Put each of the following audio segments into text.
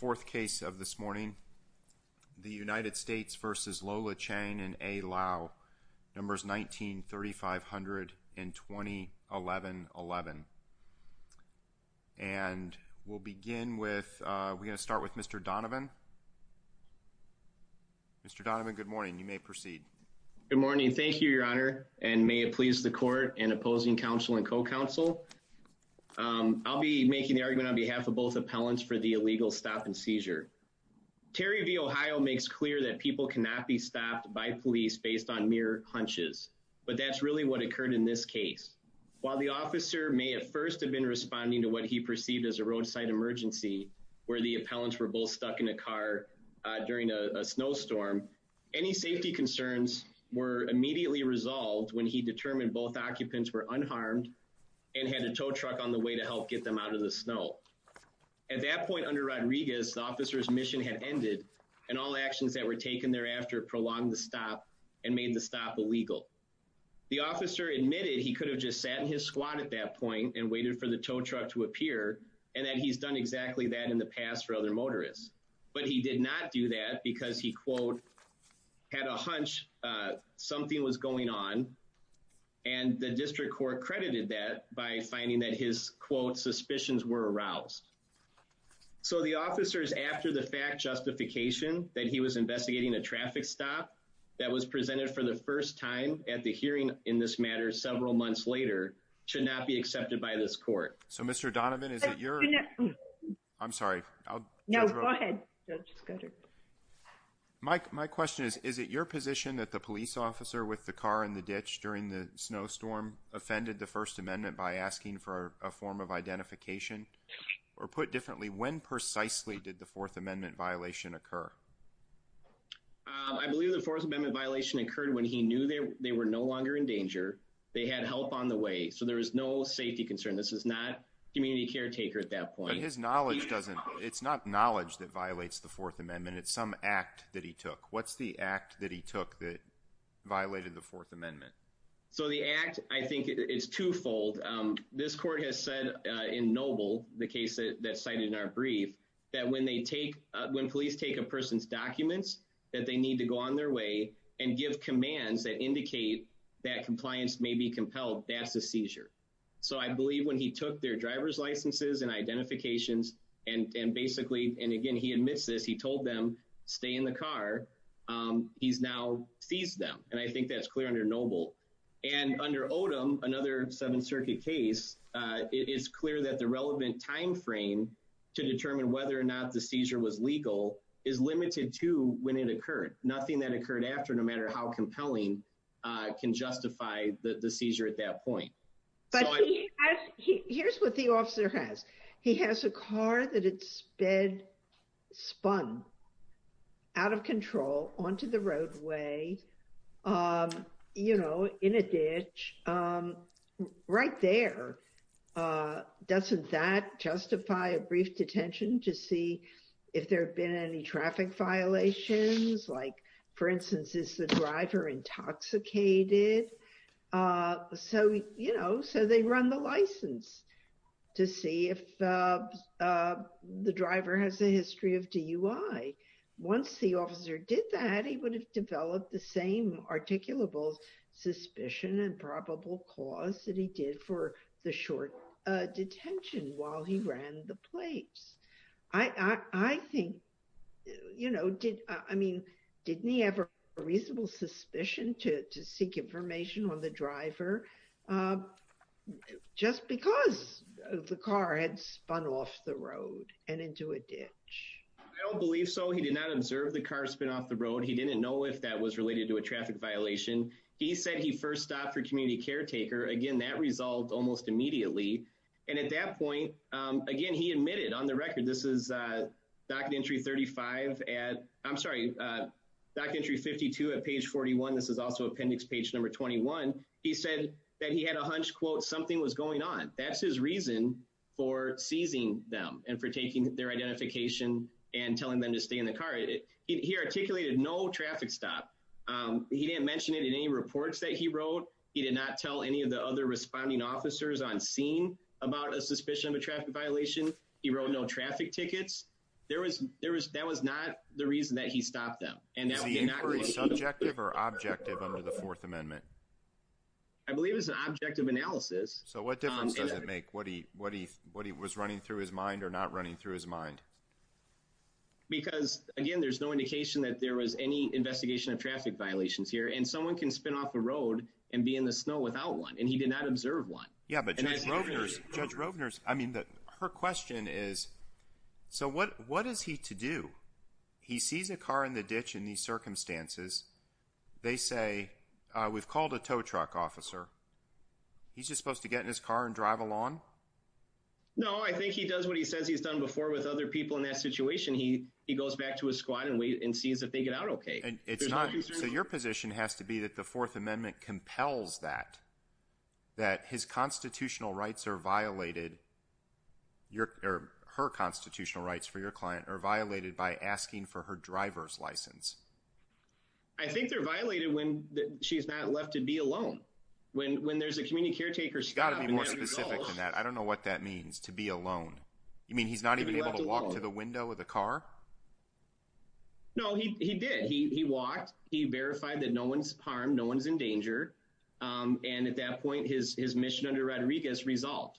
4th case of this morning, the United States v. Lola Chang and A. Lau, numbers 19-3500 and 20-11-11. And we'll begin with, we're going to start with Mr. Donovan. Mr. Donovan, good morning. You may proceed. Good morning. Thank you, your honor. And may it please the court and opposing counsel and co-counsel. I'll be making the argument on behalf of both appellants for the illegal stop and seizure. Terry v. Ohio makes clear that people cannot be stopped by police based on mere hunches, but that's really what occurred in this case. While the officer may at first have been responding to what he perceived as a roadside emergency, where the appellants were both stuck in a car during a snowstorm, any safety concerns were immediately resolved when he determined both occupants were unharmed and had a tow truck on the way to help get them out of the snow. At that point under Rodriguez, the officer's mission had ended and all actions that were taken thereafter prolonged the stop and made the stop illegal. The officer admitted he could have just sat in his squad at that point and waited for the tow truck to appear and that he's done exactly that in the past for other motorists. But he did not do that because he, quote, had a hunch something was going on and the district court credited that by finding that his, quote, suspicions were aroused. So the officers, after the fact justification that he was investigating a traffic stop that was presented for the first time at the hearing in this matter several months later, should not be accepted by this court. So Mr. Donovan, is it your... I'm sorry. No, go ahead. Go ahead. Mike, my question is, is it your position that the police officer with the car in the ditch during the snowstorm offended the First Amendment by asking for a form of identification? Or put differently, when precisely did the Fourth Amendment violation occur? I believe the Fourth Amendment violation occurred when he knew they were no longer in danger. They had help on the way. So there was no safety concern. This is not community caretaker at that point. His knowledge doesn't, it's not knowledge that violates the Fourth Amendment. It's some act that he took. What's the act that he took that violated the Fourth Amendment? So the act, I think it's twofold. This court has said in Noble, the case that's cited in our brief, that when they take, when police take a person's documents that they need to go on their way and give commands that indicate that compliance may be compelled, that's a seizure. So I believe when he took their driver's licenses and identifications and basically, and again, he admits this, he told them, stay in the car, he's now seized them. And I think that's clear under Noble. And under Odom, another Seventh Circuit case, it is clear that the relevant timeframe to determine whether or not the seizure was legal is limited to when it occurred. Nothing that occurred after, no matter how compelling, can justify the seizure at that point. But here's what the officer has. He has a car that it's been spun out of control onto the roadway, you know, in a ditch, right there. Doesn't that justify a brief detention to see if there have been any traffic violations? Like, for instance, is the driver intoxicated? So, you know, so they run the license to see if the driver has a history of DUI. Once the officer did that, he would have developed the same articulable suspicion and probable cause that he did for the short detention while he ran the place. I think, you know, did, I mean, didn't he have a reasonable suspicion to seek information on the driver just because the car had spun off the road and into a ditch? I don't believe so. He did not observe the car spin off the road. He didn't know if that was related to a traffic violation. He said he first stopped for community caretaker. Again, that resolved almost immediately. And at that point, again, he admitted on the record, this is document entry 35 at, I'm sorry, document entry 52 at page 41. This is also appendix page number 21. He said that he had a hunch quote, something was going on. That's his reason for seizing them and for taking their identification and telling them to stay in the car. He articulated no traffic stop. He didn't mention it in any reports that he wrote. He did not tell any of the other responding officers on scene about a suspicion of a traffic violation. He wrote no traffic tickets. There was, there was, that was not the reason that he stopped them. Is the inquiry subjective or objective under the fourth amendment? I believe it's an objective analysis. So what difference does it make what he, what he, what he was running through his mind or not running through his mind? Because again, there's no indication that there was any investigation of traffic violations here and someone can spin off the road and be in the snow without one. And he did not observe one. Yeah, but Judge Rovner's, Judge Rovner's, I mean, her question is, so what, what is he to do? He sees a car in the ditch in these circumstances. They say, we've called a tow truck officer. He's just supposed to get in his car and drive along? No, I think he does what he says he's done before with other people in that situation. He, he goes back to his squad and wait and sees if they get out okay. So your position has to be that the fourth amendment compels that, that his constitutional rights are violated. Your, her constitutional rights for your client are violated by asking for her driver's license. I think they're violated when she's not left to be alone. When, when there's a community caretaker. She's got to be more specific than that. I don't know what that means to be alone. You mean he's not even able to walk to the window of the car? No, he, he did. He, he walked, he verified that no one's harmed, no one's in danger. And at that point, his, his mission under Rodriguez resolved.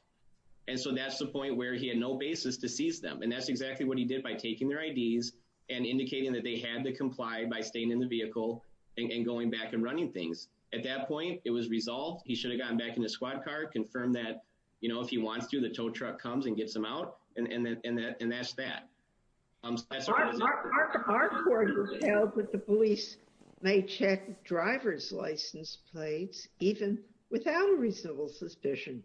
And so that's the point where he had no basis to seize them. And that's exactly what he did by taking their IDs and indicating that they had to comply by staying in the vehicle and going back and running things. At that point, it was resolved. He should have gotten back in his squad car, confirmed that, you know, if he wants to, the tow truck comes and gets him out. And then, and that, and that's that. Our court has held that the police may check driver's license plates, even without a reasonable suspicion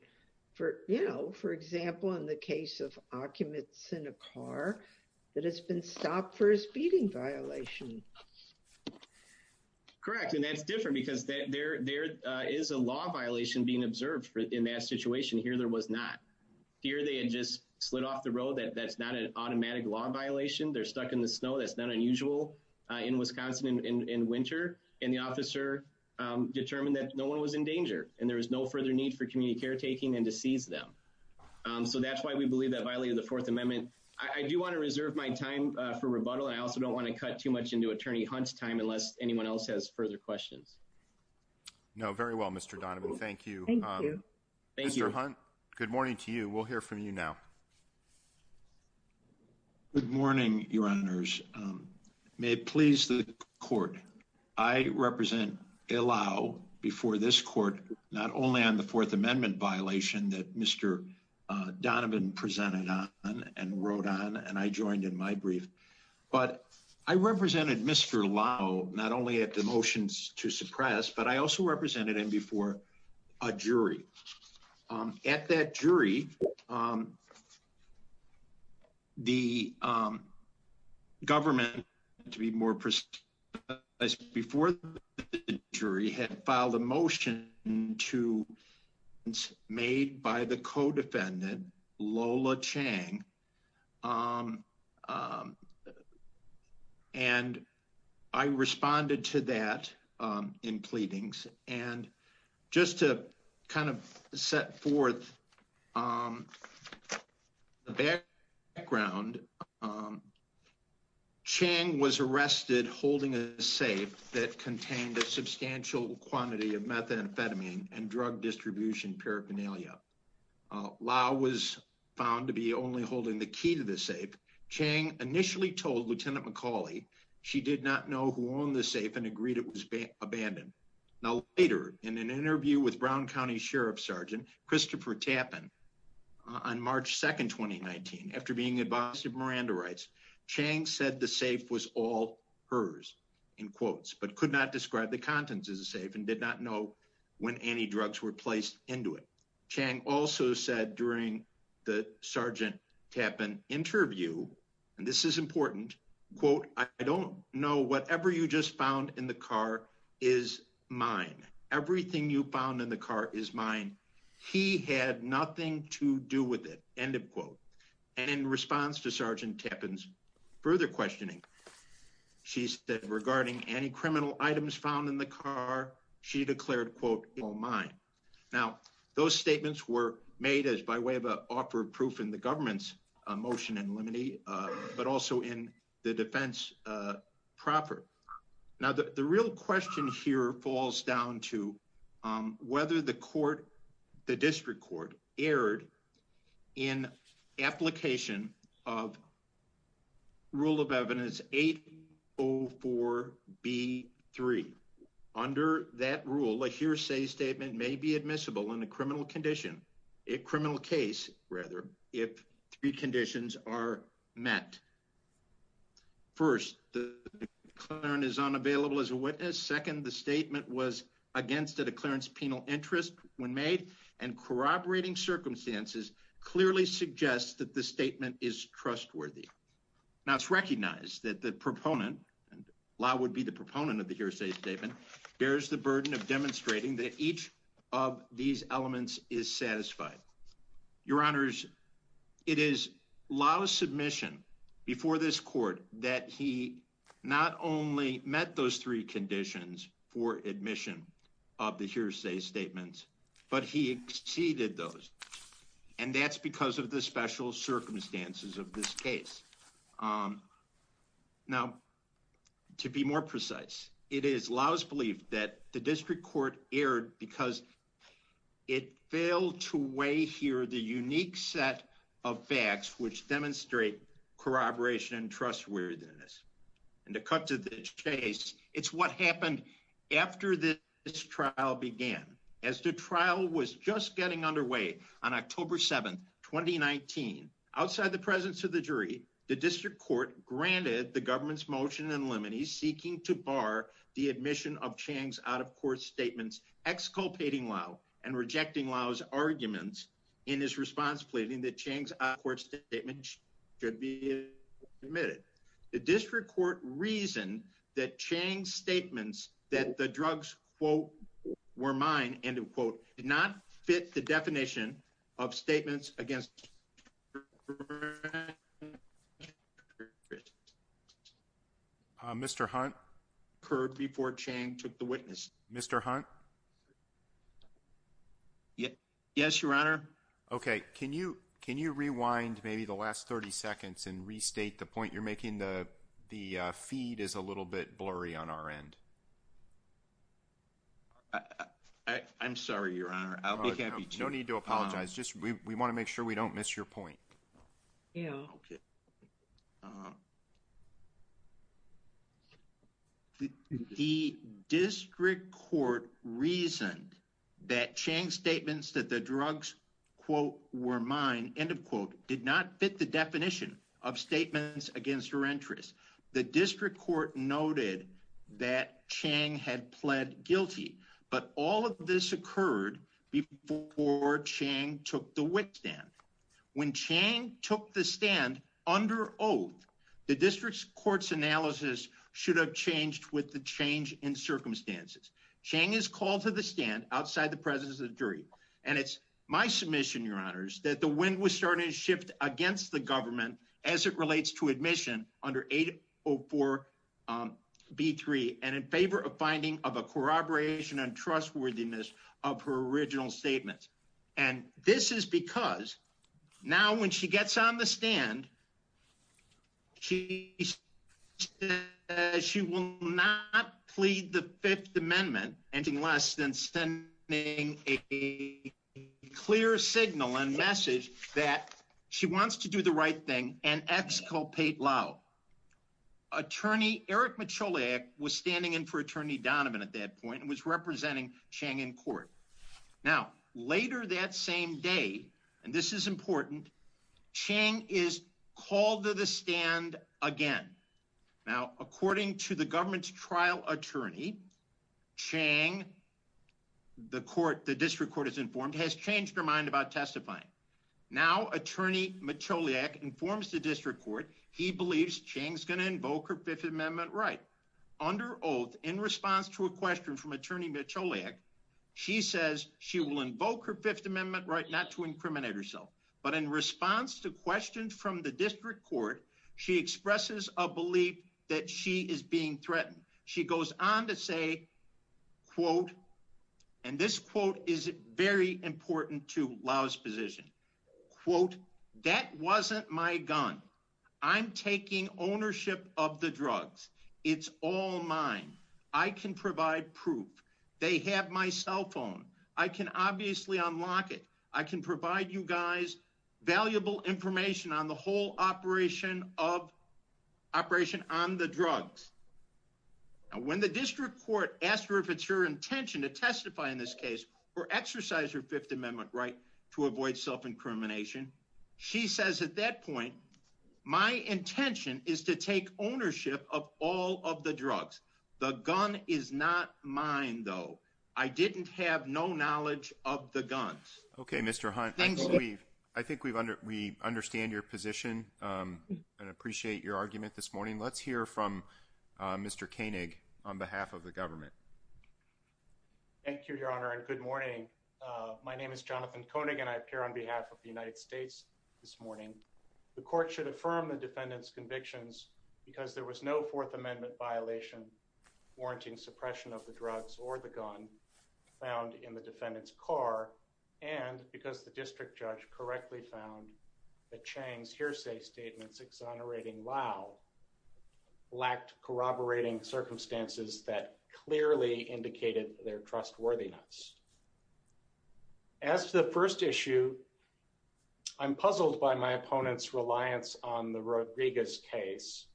for, you know, for example, in the case of occupants in a car that has been stopped for his speeding violation. Correct. And that's different because there, there is a law violation being observed in that situation. Here, there was not. Here, they had just slid off the road that that's not an automatic law violation. They're stuck in the snow. That's not unusual in Wisconsin in winter. And the officer determined that no one was in danger and there was no further need for community caretaking and to seize them. So that's why we believe that violated the Fourth Amendment. I do want to reserve my time for rebuttal. And I also don't want to cut too much into attorney Hunt's time unless anyone else has further questions. No, very well, Mr. Donovan. Thank you. Thank you, Mr. Hunt. Good morning to you. We'll hear from you now. Good morning, your honors. May it please the court. I represent Illao before this court, not only on the Fourth Amendment violation that Mr. Donovan presented on and wrote on, and I joined in my brief, but I represented Mr. Illao, not only at the motions to suppress, but I also represented him before a jury. At that jury, the government, to be more precise, before the jury had filed a motion to make a motion, made by the co-defendant, Lola Chang. And I responded to that in pleadings. And just to kind of set forth the background, Chang was arrested holding a safe that contained a substantial quantity of methamphetamine and drug distribution paraphernalia. Illao was found to be only holding the key to the safe. Chang initially told Lieutenant McCauley she did not know who owned the safe and agreed it was abandoned. Now, later in an interview with Brown County Sheriff Sergeant Christopher Tappan on March 2nd, 2019, after being advised of Miranda rights, Chang said the safe was all hers, in quotes, but could not describe the contents of the safe and did not know when any drugs were placed into it. Chang also said during the Sergeant Tappan interview, and this is important, quote, I don't know whatever you just found in the car is mine. Everything you found in the car is mine. He had nothing to do with it, end of quote. And in response to Sergeant Tappan's further questioning, she said regarding any criminal items found in the car, she declared, quote, all mine. Now, those statements were made as by way of an offer of proof in the government's motion in limine, but also in the defense proper. Now, the real question here falls down to whether the court, the district court, erred in application of evidence 804B3. Under that rule, a hearsay statement may be admissible in a criminal condition, a criminal case, rather, if three conditions are met. First, the declarant is unavailable as a witness. Second, the statement was against a declarant's penal interest when made, and corroborating circumstances clearly suggest that the statement is trustworthy. Now, it's recognized that the proponent, and Law would be the proponent of the hearsay statement, bears the burden of demonstrating that each of these elements is satisfied. Your Honors, it is Law's submission before this court that he not only met those three conditions for admission of the hearsay statements, but he exceeded those, and that's because of the special circumstances of this case. Now, to be more precise, it is Law's belief that the district court erred because it failed to weigh here the unique set of facts which demonstrate corroboration and trustworthiness. And to cut to the chase, it's what happened after this trial began. As the trial was just underway on October 7th, 2019, outside the presence of the jury, the district court granted the government's motion in limine seeking to bar the admission of Chang's out-of-court statements, exculpating Law and rejecting Law's arguments in his response pleading that Chang's out-of-court statement should be admitted. The district court reasoned that Chang's statements that the drugs, quote, were mine, end of quote, did not fit the definition of statements against. Mr. Hunt? Occurred before Chang took the witness. Mr. Hunt? Yes, Your Honor. Okay. Can you rewind maybe the last 30 seconds and restate the point you're making? The feed is a little bit blurry on our end. I'm sorry, Your Honor. I'll be happy to. No need to apologize. We want to make sure we don't miss your point. The district court reasoned that Chang's statements that the drugs, quote, were mine, end of quote, did not fit the definition of statements against her interests. The district court noted that Chang had pled guilty, but all of this occurred before Chang took the witness stand. When Chang took the stand under oath, the district court's analysis should have changed with the change in circumstances. Chang is called to the stand outside the presence of the jury, and it's my submission, Your Honors, that the wind was starting to shift against the government as it relates to admission under 804B3, and in favor of finding of a corroboration and trustworthiness of her original statements. And this is because now when she gets on the stand, she says she will not plead the Fifth Amendment, anything less than sending a clear signal and message that she wants to do the right thing and exculpate Lau. Attorney Eric Michalak was standing in for Attorney Donovan at that point and was representing Chang in court. Now, later that same day, and this is important, Chang is called to the stand again. Now, according to the government's trial attorney, Chang, the court, the district court, has changed her mind about testifying. Now, Attorney Michalak informs the district court he believes Chang's going to invoke her Fifth Amendment right. Under oath, in response to a question from Attorney Michalak, she says she will invoke her Fifth Amendment right not to incriminate herself. But in response to questions from the district court, she expresses a belief that she is being threatened. She goes on to say, quote, and this quote is very important to Lau's position, quote, that wasn't my gun. I'm taking ownership of the drugs. It's all mine. I can provide proof. They have my cell phone. I can obviously unlock it. I can provide you guys valuable information on the whole operation of operation on the drugs. Now, when the district court asked her if it's her intention to testify in this case or exercise her Fifth Amendment right to avoid self-incrimination, she says at that point, my intention is to take ownership of all of the drugs. The gun is not mine, though. I didn't have no knowledge of the guns. Okay, Mr. Hunt. I think we understand your position and appreciate your argument this morning. Let's hear from Mr. Koenig on behalf of the government. Thank you, Your Honor, and good morning. My name is Jonathan Koenig, and I appear on behalf of the United States this morning. The court should affirm the defendant's convictions because there was no Fourth Amendment violation warranting suppression of the drugs or the gun found in the defendant's car and because the district judge correctly found that Chang's hearsay statements exonerating Lau lacked corroborating circumstances that clearly indicated their trustworthiness. As for the first issue, I'm puzzled by my opponent's reliance on the Rodriguez case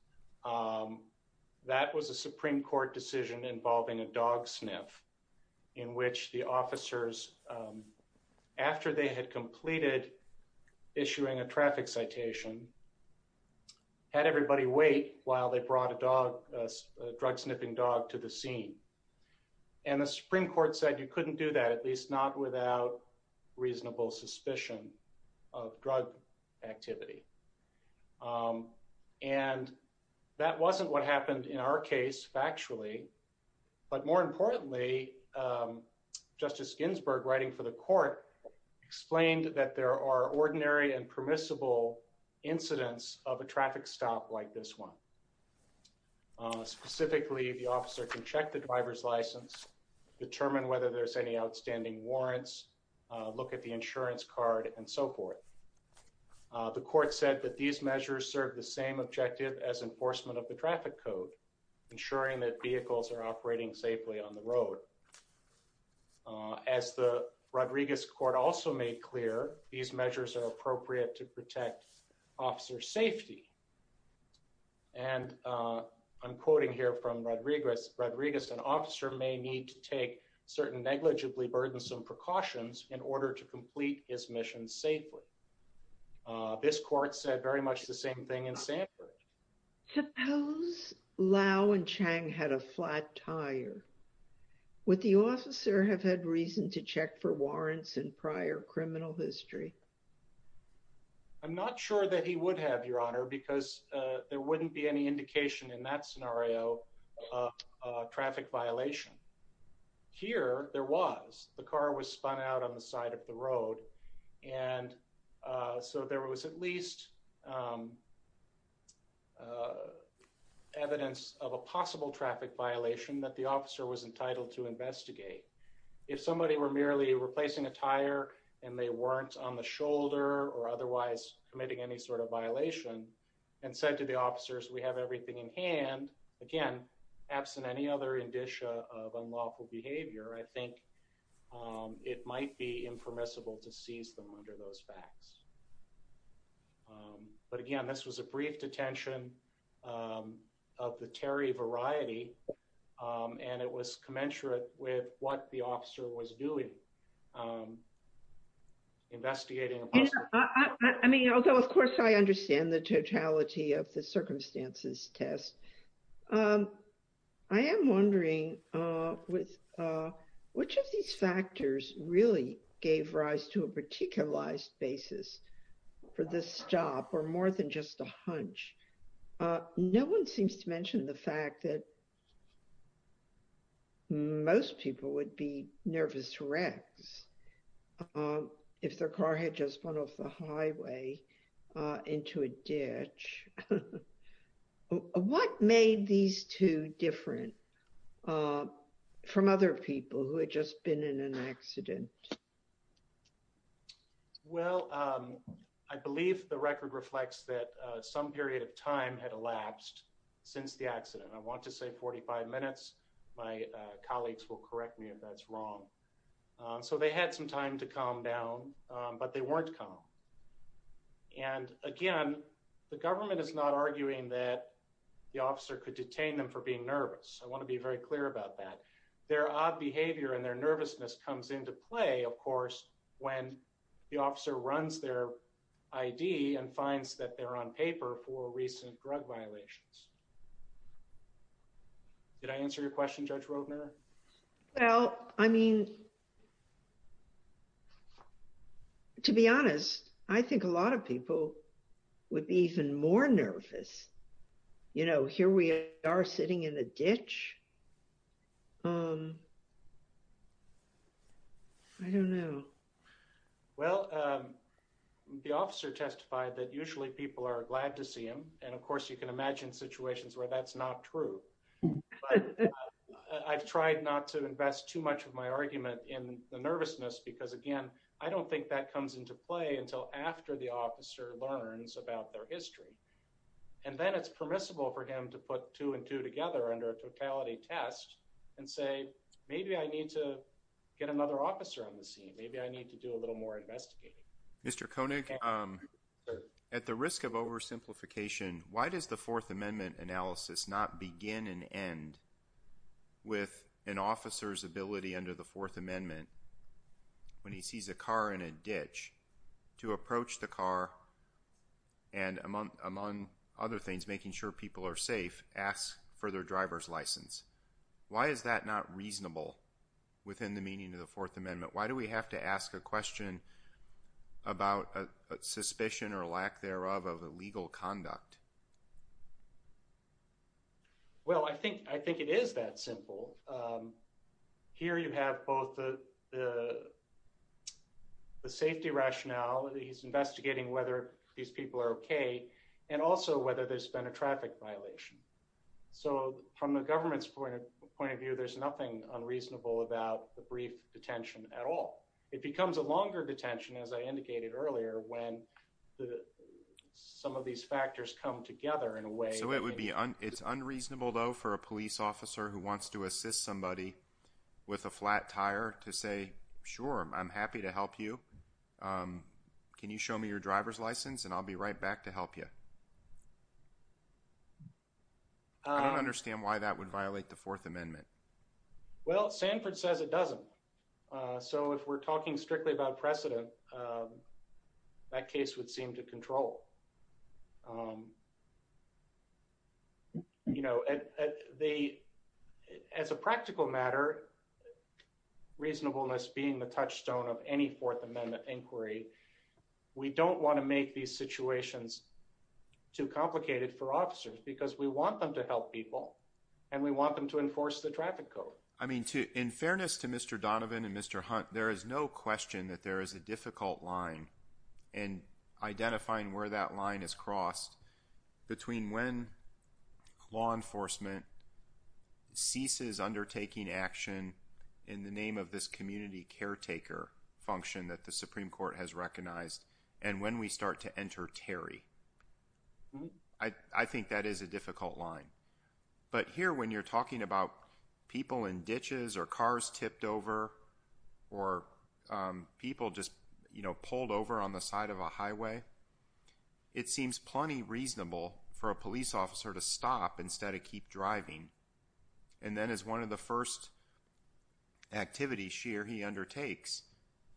that was a Supreme Court decision involving a dog sniff in which the officers, after they had completed issuing a traffic citation, had everybody wait while they brought a dog, a drug sniffing dog, to the scene. And the Supreme Court said you couldn't do that, at least not without reasonable suspicion of drug activity. And that wasn't what happened in our case, factually. But more importantly, Justice Ginsburg, writing for the court, explained that there are ordinary and permissible incidents of a traffic stop like this one. Specifically, the officer can check the driver's license, determine whether there's any outstanding warrants, look at the insurance card, and so forth. The court said that these measures serve the same objective as enforcement of the traffic code, ensuring that vehicles are operating safely on the road. As the Rodriguez court also made clear, these measures are appropriate to protect officer safety. And I'm quoting here from Rodriguez, Rodriguez, an officer may need to take certain negligibly burdensome precautions in order to complete his mission safely. This court said very much the same thing in Sanford. Suppose Lau and Chang had a flat tire. Would the officer have had reason to check for warrants in prior criminal history? I'm not sure that he would have, Your Honor, because there wouldn't be any indication in that violation. Here, there was. The car was spun out on the side of the road, and so there was at least evidence of a possible traffic violation that the officer was entitled to investigate. If somebody were merely replacing a tire and they weren't on the shoulder or otherwise committing any sort of violation, and said to the officers, we have everything in hand, again, absent any other indicia of unlawful behavior, I think it might be impermissible to seize them under those facts. But again, this was a brief detention of the Terry variety, and it was commensurate with what the officer was doing. I mean, although, of course, I understand the totality of the circumstances test. I am wondering, which of these factors really gave rise to a particularized basis for this job or more than just a hunch? No one seems to mention the fact that most people would be nervous wrecks if their car had just gone off the highway into a ditch. What made these two different from other people who had just been in an accident? Well, I believe the record reflects that some period of time had elapsed since the accident. I want to say 45 minutes. My colleagues will correct me if that's wrong. So they had some time to calm down, but they weren't calm. And again, the government is not arguing that the officer could detain them for being nervous. I want to be very clear about that. Their odd behavior and their nervousness comes into play, of course, when the officer runs their ID and finds that they're on paper for recent drug violations. Did I answer your question, Judge Rodner? Well, I mean, to be honest, I think a lot of people would be even more nervous. You know, here we are sitting in a ditch. I don't know. Well, the officer testified that usually people are glad to see him. And of course, you can imagine situations where that's not true. I've tried not to invest too much of my argument in the nervousness because, again, I don't think that comes into play until after the officer learns about their history. And then it's permissible for him to put two and two together under a totality test and say, maybe I need to get another officer on the scene. Maybe I need to do a little more investigating. Mr. Koenig, at the risk of oversimplification, why does the Fourth Amendment analysis not begin and end with an officer's ability under the Fourth Amendment when he sees a car in a ditch to approach the car and, among other things, making sure people are safe, ask for their driver's license? Why is that not reasonable within the meaning of the Fourth Amendment? Why do we have to ask a question about a suspicion or lack thereof of illegal conduct? Well, I think it is that simple. Here you have both the safety rationale, he's investigating whether these people are OK, and also whether there's been a traffic violation. So from the perspective of a police officer, I don't think it's unreasonable for a police officer to say, sure, I'm happy to help you. Can you show me your driver's license? And I'll be right back to help you. I don't understand why that would violate the Fourth Amendment. Well, Sanford says it doesn't. So if we're talking strictly about precedent, that case would seem to control. You know, as a practical matter, reasonableness being the touchstone of any Fourth Amendment inquiry, we don't want to make these situations too complicated for officers because we want them to help people and we want them to enforce the traffic code. I mean, in fairness to Mr. Donovan and Mr. Hunt, there is no question that there is a difficult line in identifying where that line is crossed between when law enforcement ceases undertaking action in the name of this community caretaker function that the Supreme Court has recognized and when we start to enter Terry. I think that is a difficult line. But here, when you're talking about people in ditches or cars tipped over or people just, you know, pulled over on the side of a highway, it seems plenty reasonable for a police officer to stop instead of keep driving. And then as one of the first activities she or he undertakes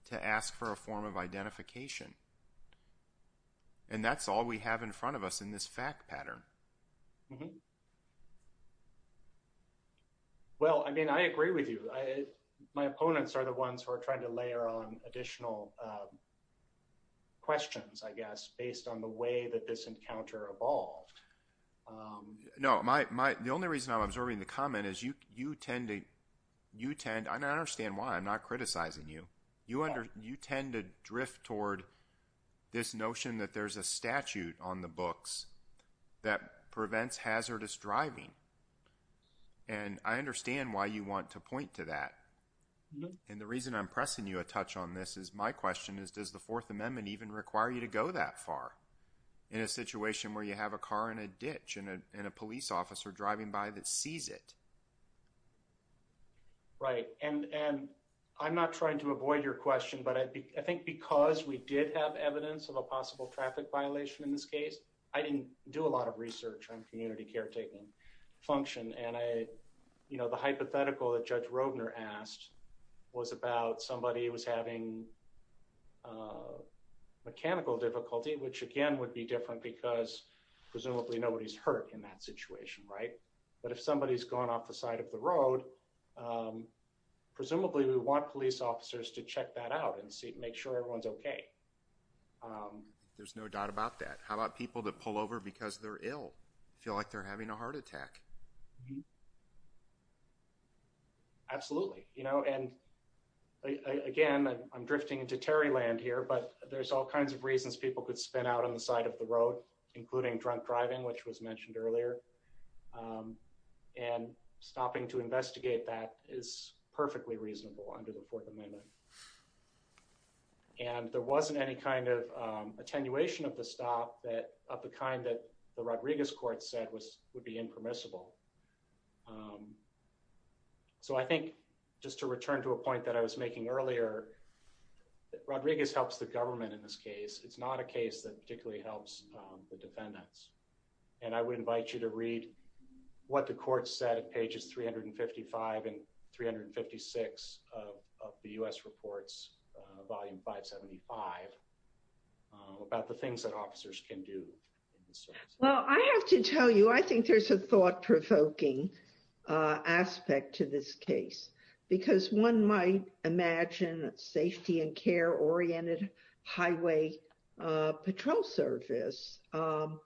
to ask for a form of identification, it seems pretty reasonable for a police officer to stop and ask for a form of identification. And that's all we have in front of us in this fact pattern. Well, I mean, I agree with you. My opponents are the ones who are trying to layer on additional questions, I guess, based on the way that this encounter evolved. Um, no, my, my, the only reason I'm absorbing the comment is you, you tend to, you tend, I don't understand why I'm not criticizing you. You under, you tend to drift toward this notion that there's a statute on the books that prevents hazardous driving. And I understand why you want to point to that. And the reason I'm pressing you a touch on this is my question is, does the Fourth Amendment even require you to go that far in a situation where you have a car in a ditch and a police officer driving by that sees it? Right. And, and I'm not trying to avoid your question, but I think because we did have evidence of a possible traffic violation in this case, I didn't do a lot of research on community caretaking function. And I, you know, the hypothetical that Judge Rodner asked was about somebody who was having a mechanical difficulty, which again, would be different because presumably nobody's hurt in that situation. Right. But if somebody has gone off the side of the road, um, presumably we want police officers to check that out and see, make sure everyone's okay. Um, there's no doubt about that. How about people that pull over because they're ill, feel like they're having a heart attack? Absolutely. You know, and again, I'm drifting into Terry land here, but there's all kinds of reasons people could spin out on the side of the road, including drunk driving, which was mentioned earlier. Um, and stopping to investigate that is perfectly reasonable under the Fourth Amendment. And there wasn't any kind of, um, attenuation of the stop that of the kind that the Rodriguez court said was, would be impermissible. Um, so I think just to return to a point that I was making earlier, Rodriguez helps the government in this case. It's not a case that particularly helps, um, the defendants. And I would invite you to read what the court said at pages 355 and 356 of the U S reports, uh, volume five 75, uh, about the things that well, I have to tell you, I think there's a thought provoking, uh, aspect to this case because one might imagine that safety and care oriented highway, uh, patrol service, um,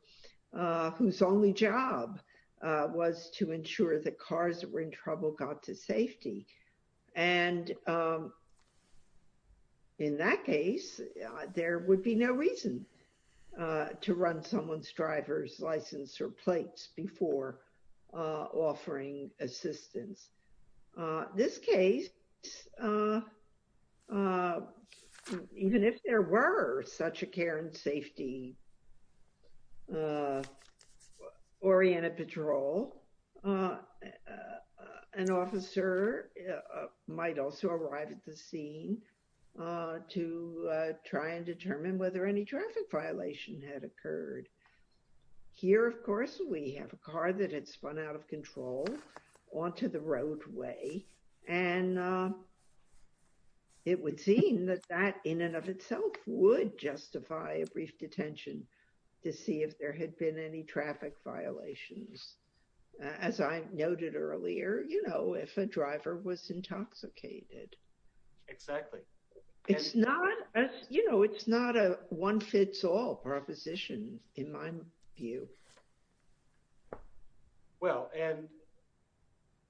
uh, whose only job, uh, was to ensure that cars that were in trouble got to safety. And, um, in that case, uh, there would be no reason, uh, to run someone's driver's license or plates before, uh, offering assistance. Uh, this case, uh, uh, even if there were such a care and safety, uh, oriented patrol, uh, uh, an officer, uh, might also arrive at the scene, uh, to, uh, try and determine whether any traffic violation had occurred here. Of course, we have a car that had spun out of control onto the roadway and, um, it would seem that that in and of itself would justify a brief detention to see if there had been any traffic violations. As I noted earlier, you know, if a driver was intoxicated, exactly. It's not, you know, it's not a one fits all proposition in my view. Well, and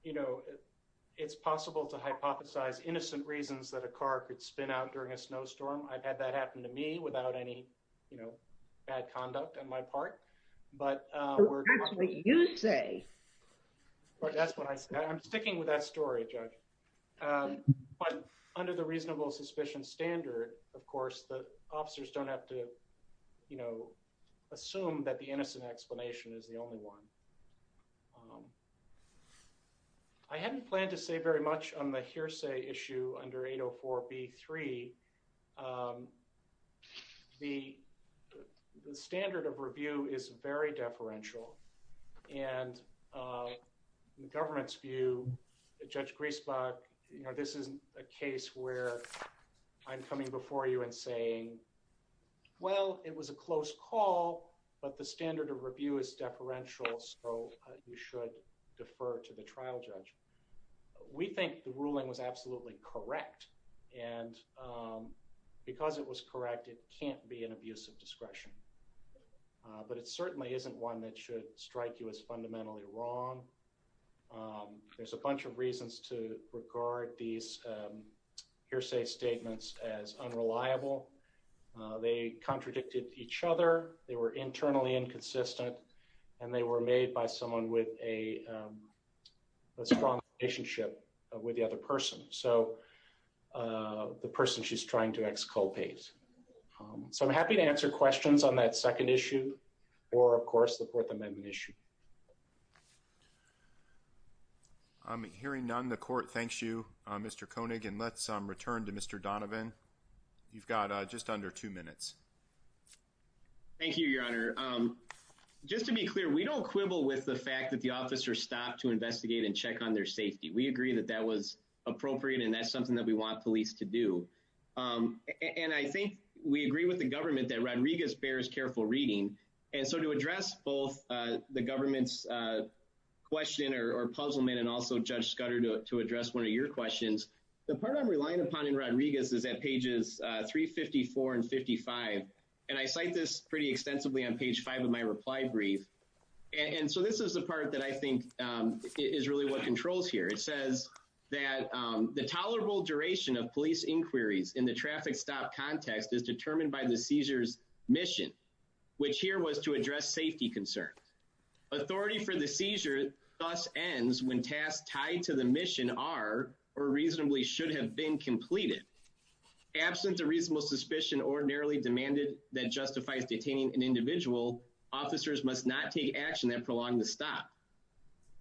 you know, it's possible to hypothesize innocent reasons that a car could spin out during a snowstorm. I've had that happen to me without any, you know, bad conduct on my part, but, uh, you'd say that's what I said. I'm sticking with that story judge. Um, but under the reasonable suspicion standard, of course, the officers don't have to, you know, assume that the innocent explanation is the only one. Um, I hadn't planned to say very much on the hearsay issue under 804B3. Um, the, the standard of review is very deferential and, uh, in the government's view, Judge Griesbach, you know, this isn't a case where I'm coming before you and saying, well, it was a close call, but the standard of review is deferential. So you should defer to the trial judge. We think the ruling was absolutely correct. And, um, because it was correct, it can't be an abuse of discretion, but it certainly isn't one that should strike you as fundamentally wrong. Um, there's a bunch of reasons to regard these, um, hearsay statements as unreliable. Uh, they contradicted each other. They were internally inconsistent, and they were made by someone with a, um, a strong relationship with the other person. So, uh, the person she's trying to exculpate. Um, so I'm happy to answer questions on that second issue or, of course, the Fourth Amendment issue. I'm hearing none. The court thanks you, uh, Mr. Koenig, and let's, um, return to Mr. Donovan. You've got, uh, just under two minutes. Thank you, Your Honor. Um, just to be clear, we don't quibble with the fact that the officer stopped to investigate and check on their safety. We agree that that was appropriate, and that's something that we want police to do. Um, and I think we agree with the government that Rodriguez bears careful reading. And so to address both, uh, the government's, uh, question or puzzlement, and also Judge Scudder to address one of your questions, the part I'm relying upon in Rodriguez is at pages, uh, 354 and 55. And I cite this pretty extensively on page five of my reply brief. And so this is the part that I think, um, is really what controls here. It says that, um, the tolerable duration of police inquiries in the traffic stop context is determined by the seizure's mission, which here was to address safety concerns. Authority for the seizure thus ends when tasks tied to the mission are, or reasonably should have been, completed. Absent a reasonable suspicion ordinarily demanded that justifies detaining an individual, officers must not take action that prolonged the stop.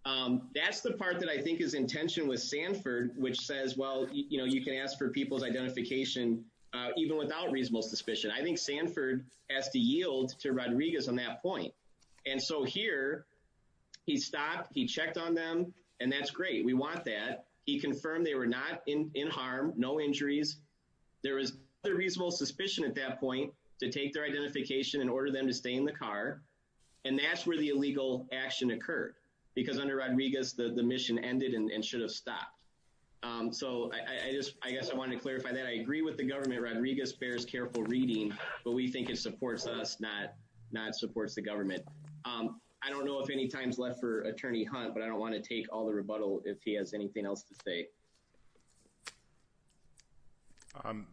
Um, that's the part that I think is in tension with Sanford, which says, well, you know, you can ask for people's identification, uh, even without reasonable suspicion. I think Sanford has to yield to Rodriguez on that point. And so here he stopped, he checked on them and that's great. We want that. He confirmed they were not in, in harm, no injuries. There was a reasonable suspicion at that point to take their identification and order them to stay in the car. And that's where the illegal action occurred because under Rodriguez, the, the mission ended and should have stopped. Um, so I, I just, I guess I wanted to clarify that I agree with the not, not supports the government. Um, I don't know if any time's left for attorney Hunt, but I don't want to take all the rebuttal if he has anything else to say. Um,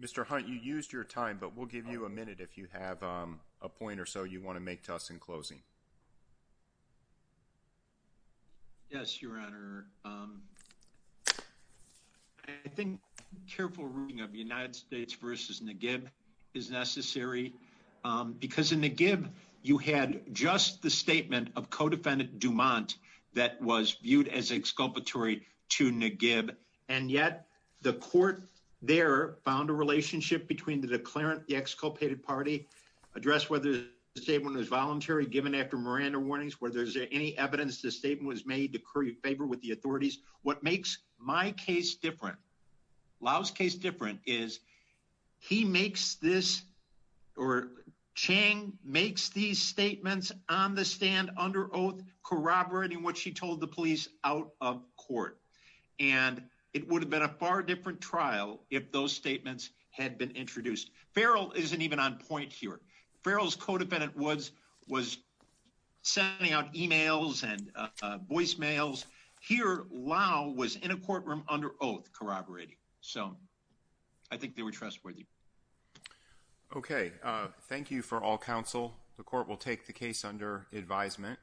Mr. Hunt, you used your time, but we'll give you a minute if you have, um, a point or so you want to make to us in closing. Yes, your honor. Um, I think careful reading of the United States versus Nagib is necessary. Um, because in Nagib you had just the statement of co-defendant Dumont that was viewed as exculpatory to Nagib. And yet the court there found a relationship between the declarant, the exculpated party address, whether the statement was voluntary given after Miranda warnings, whether there's any evidence, the statement was made to curry favor with the this or Chang makes these statements on the stand under oath corroborating what she told the police out of court. And it would have been a far different trial if those statements had been introduced. Farrell isn't even on point here. Farrell's co-defendant was, was sending out emails and, uh, voicemails here. Lau was in a courtroom under oath corroborating. So I think they were trustworthy. Okay. Uh, thank you for all counsel. The court will take the case under advisement.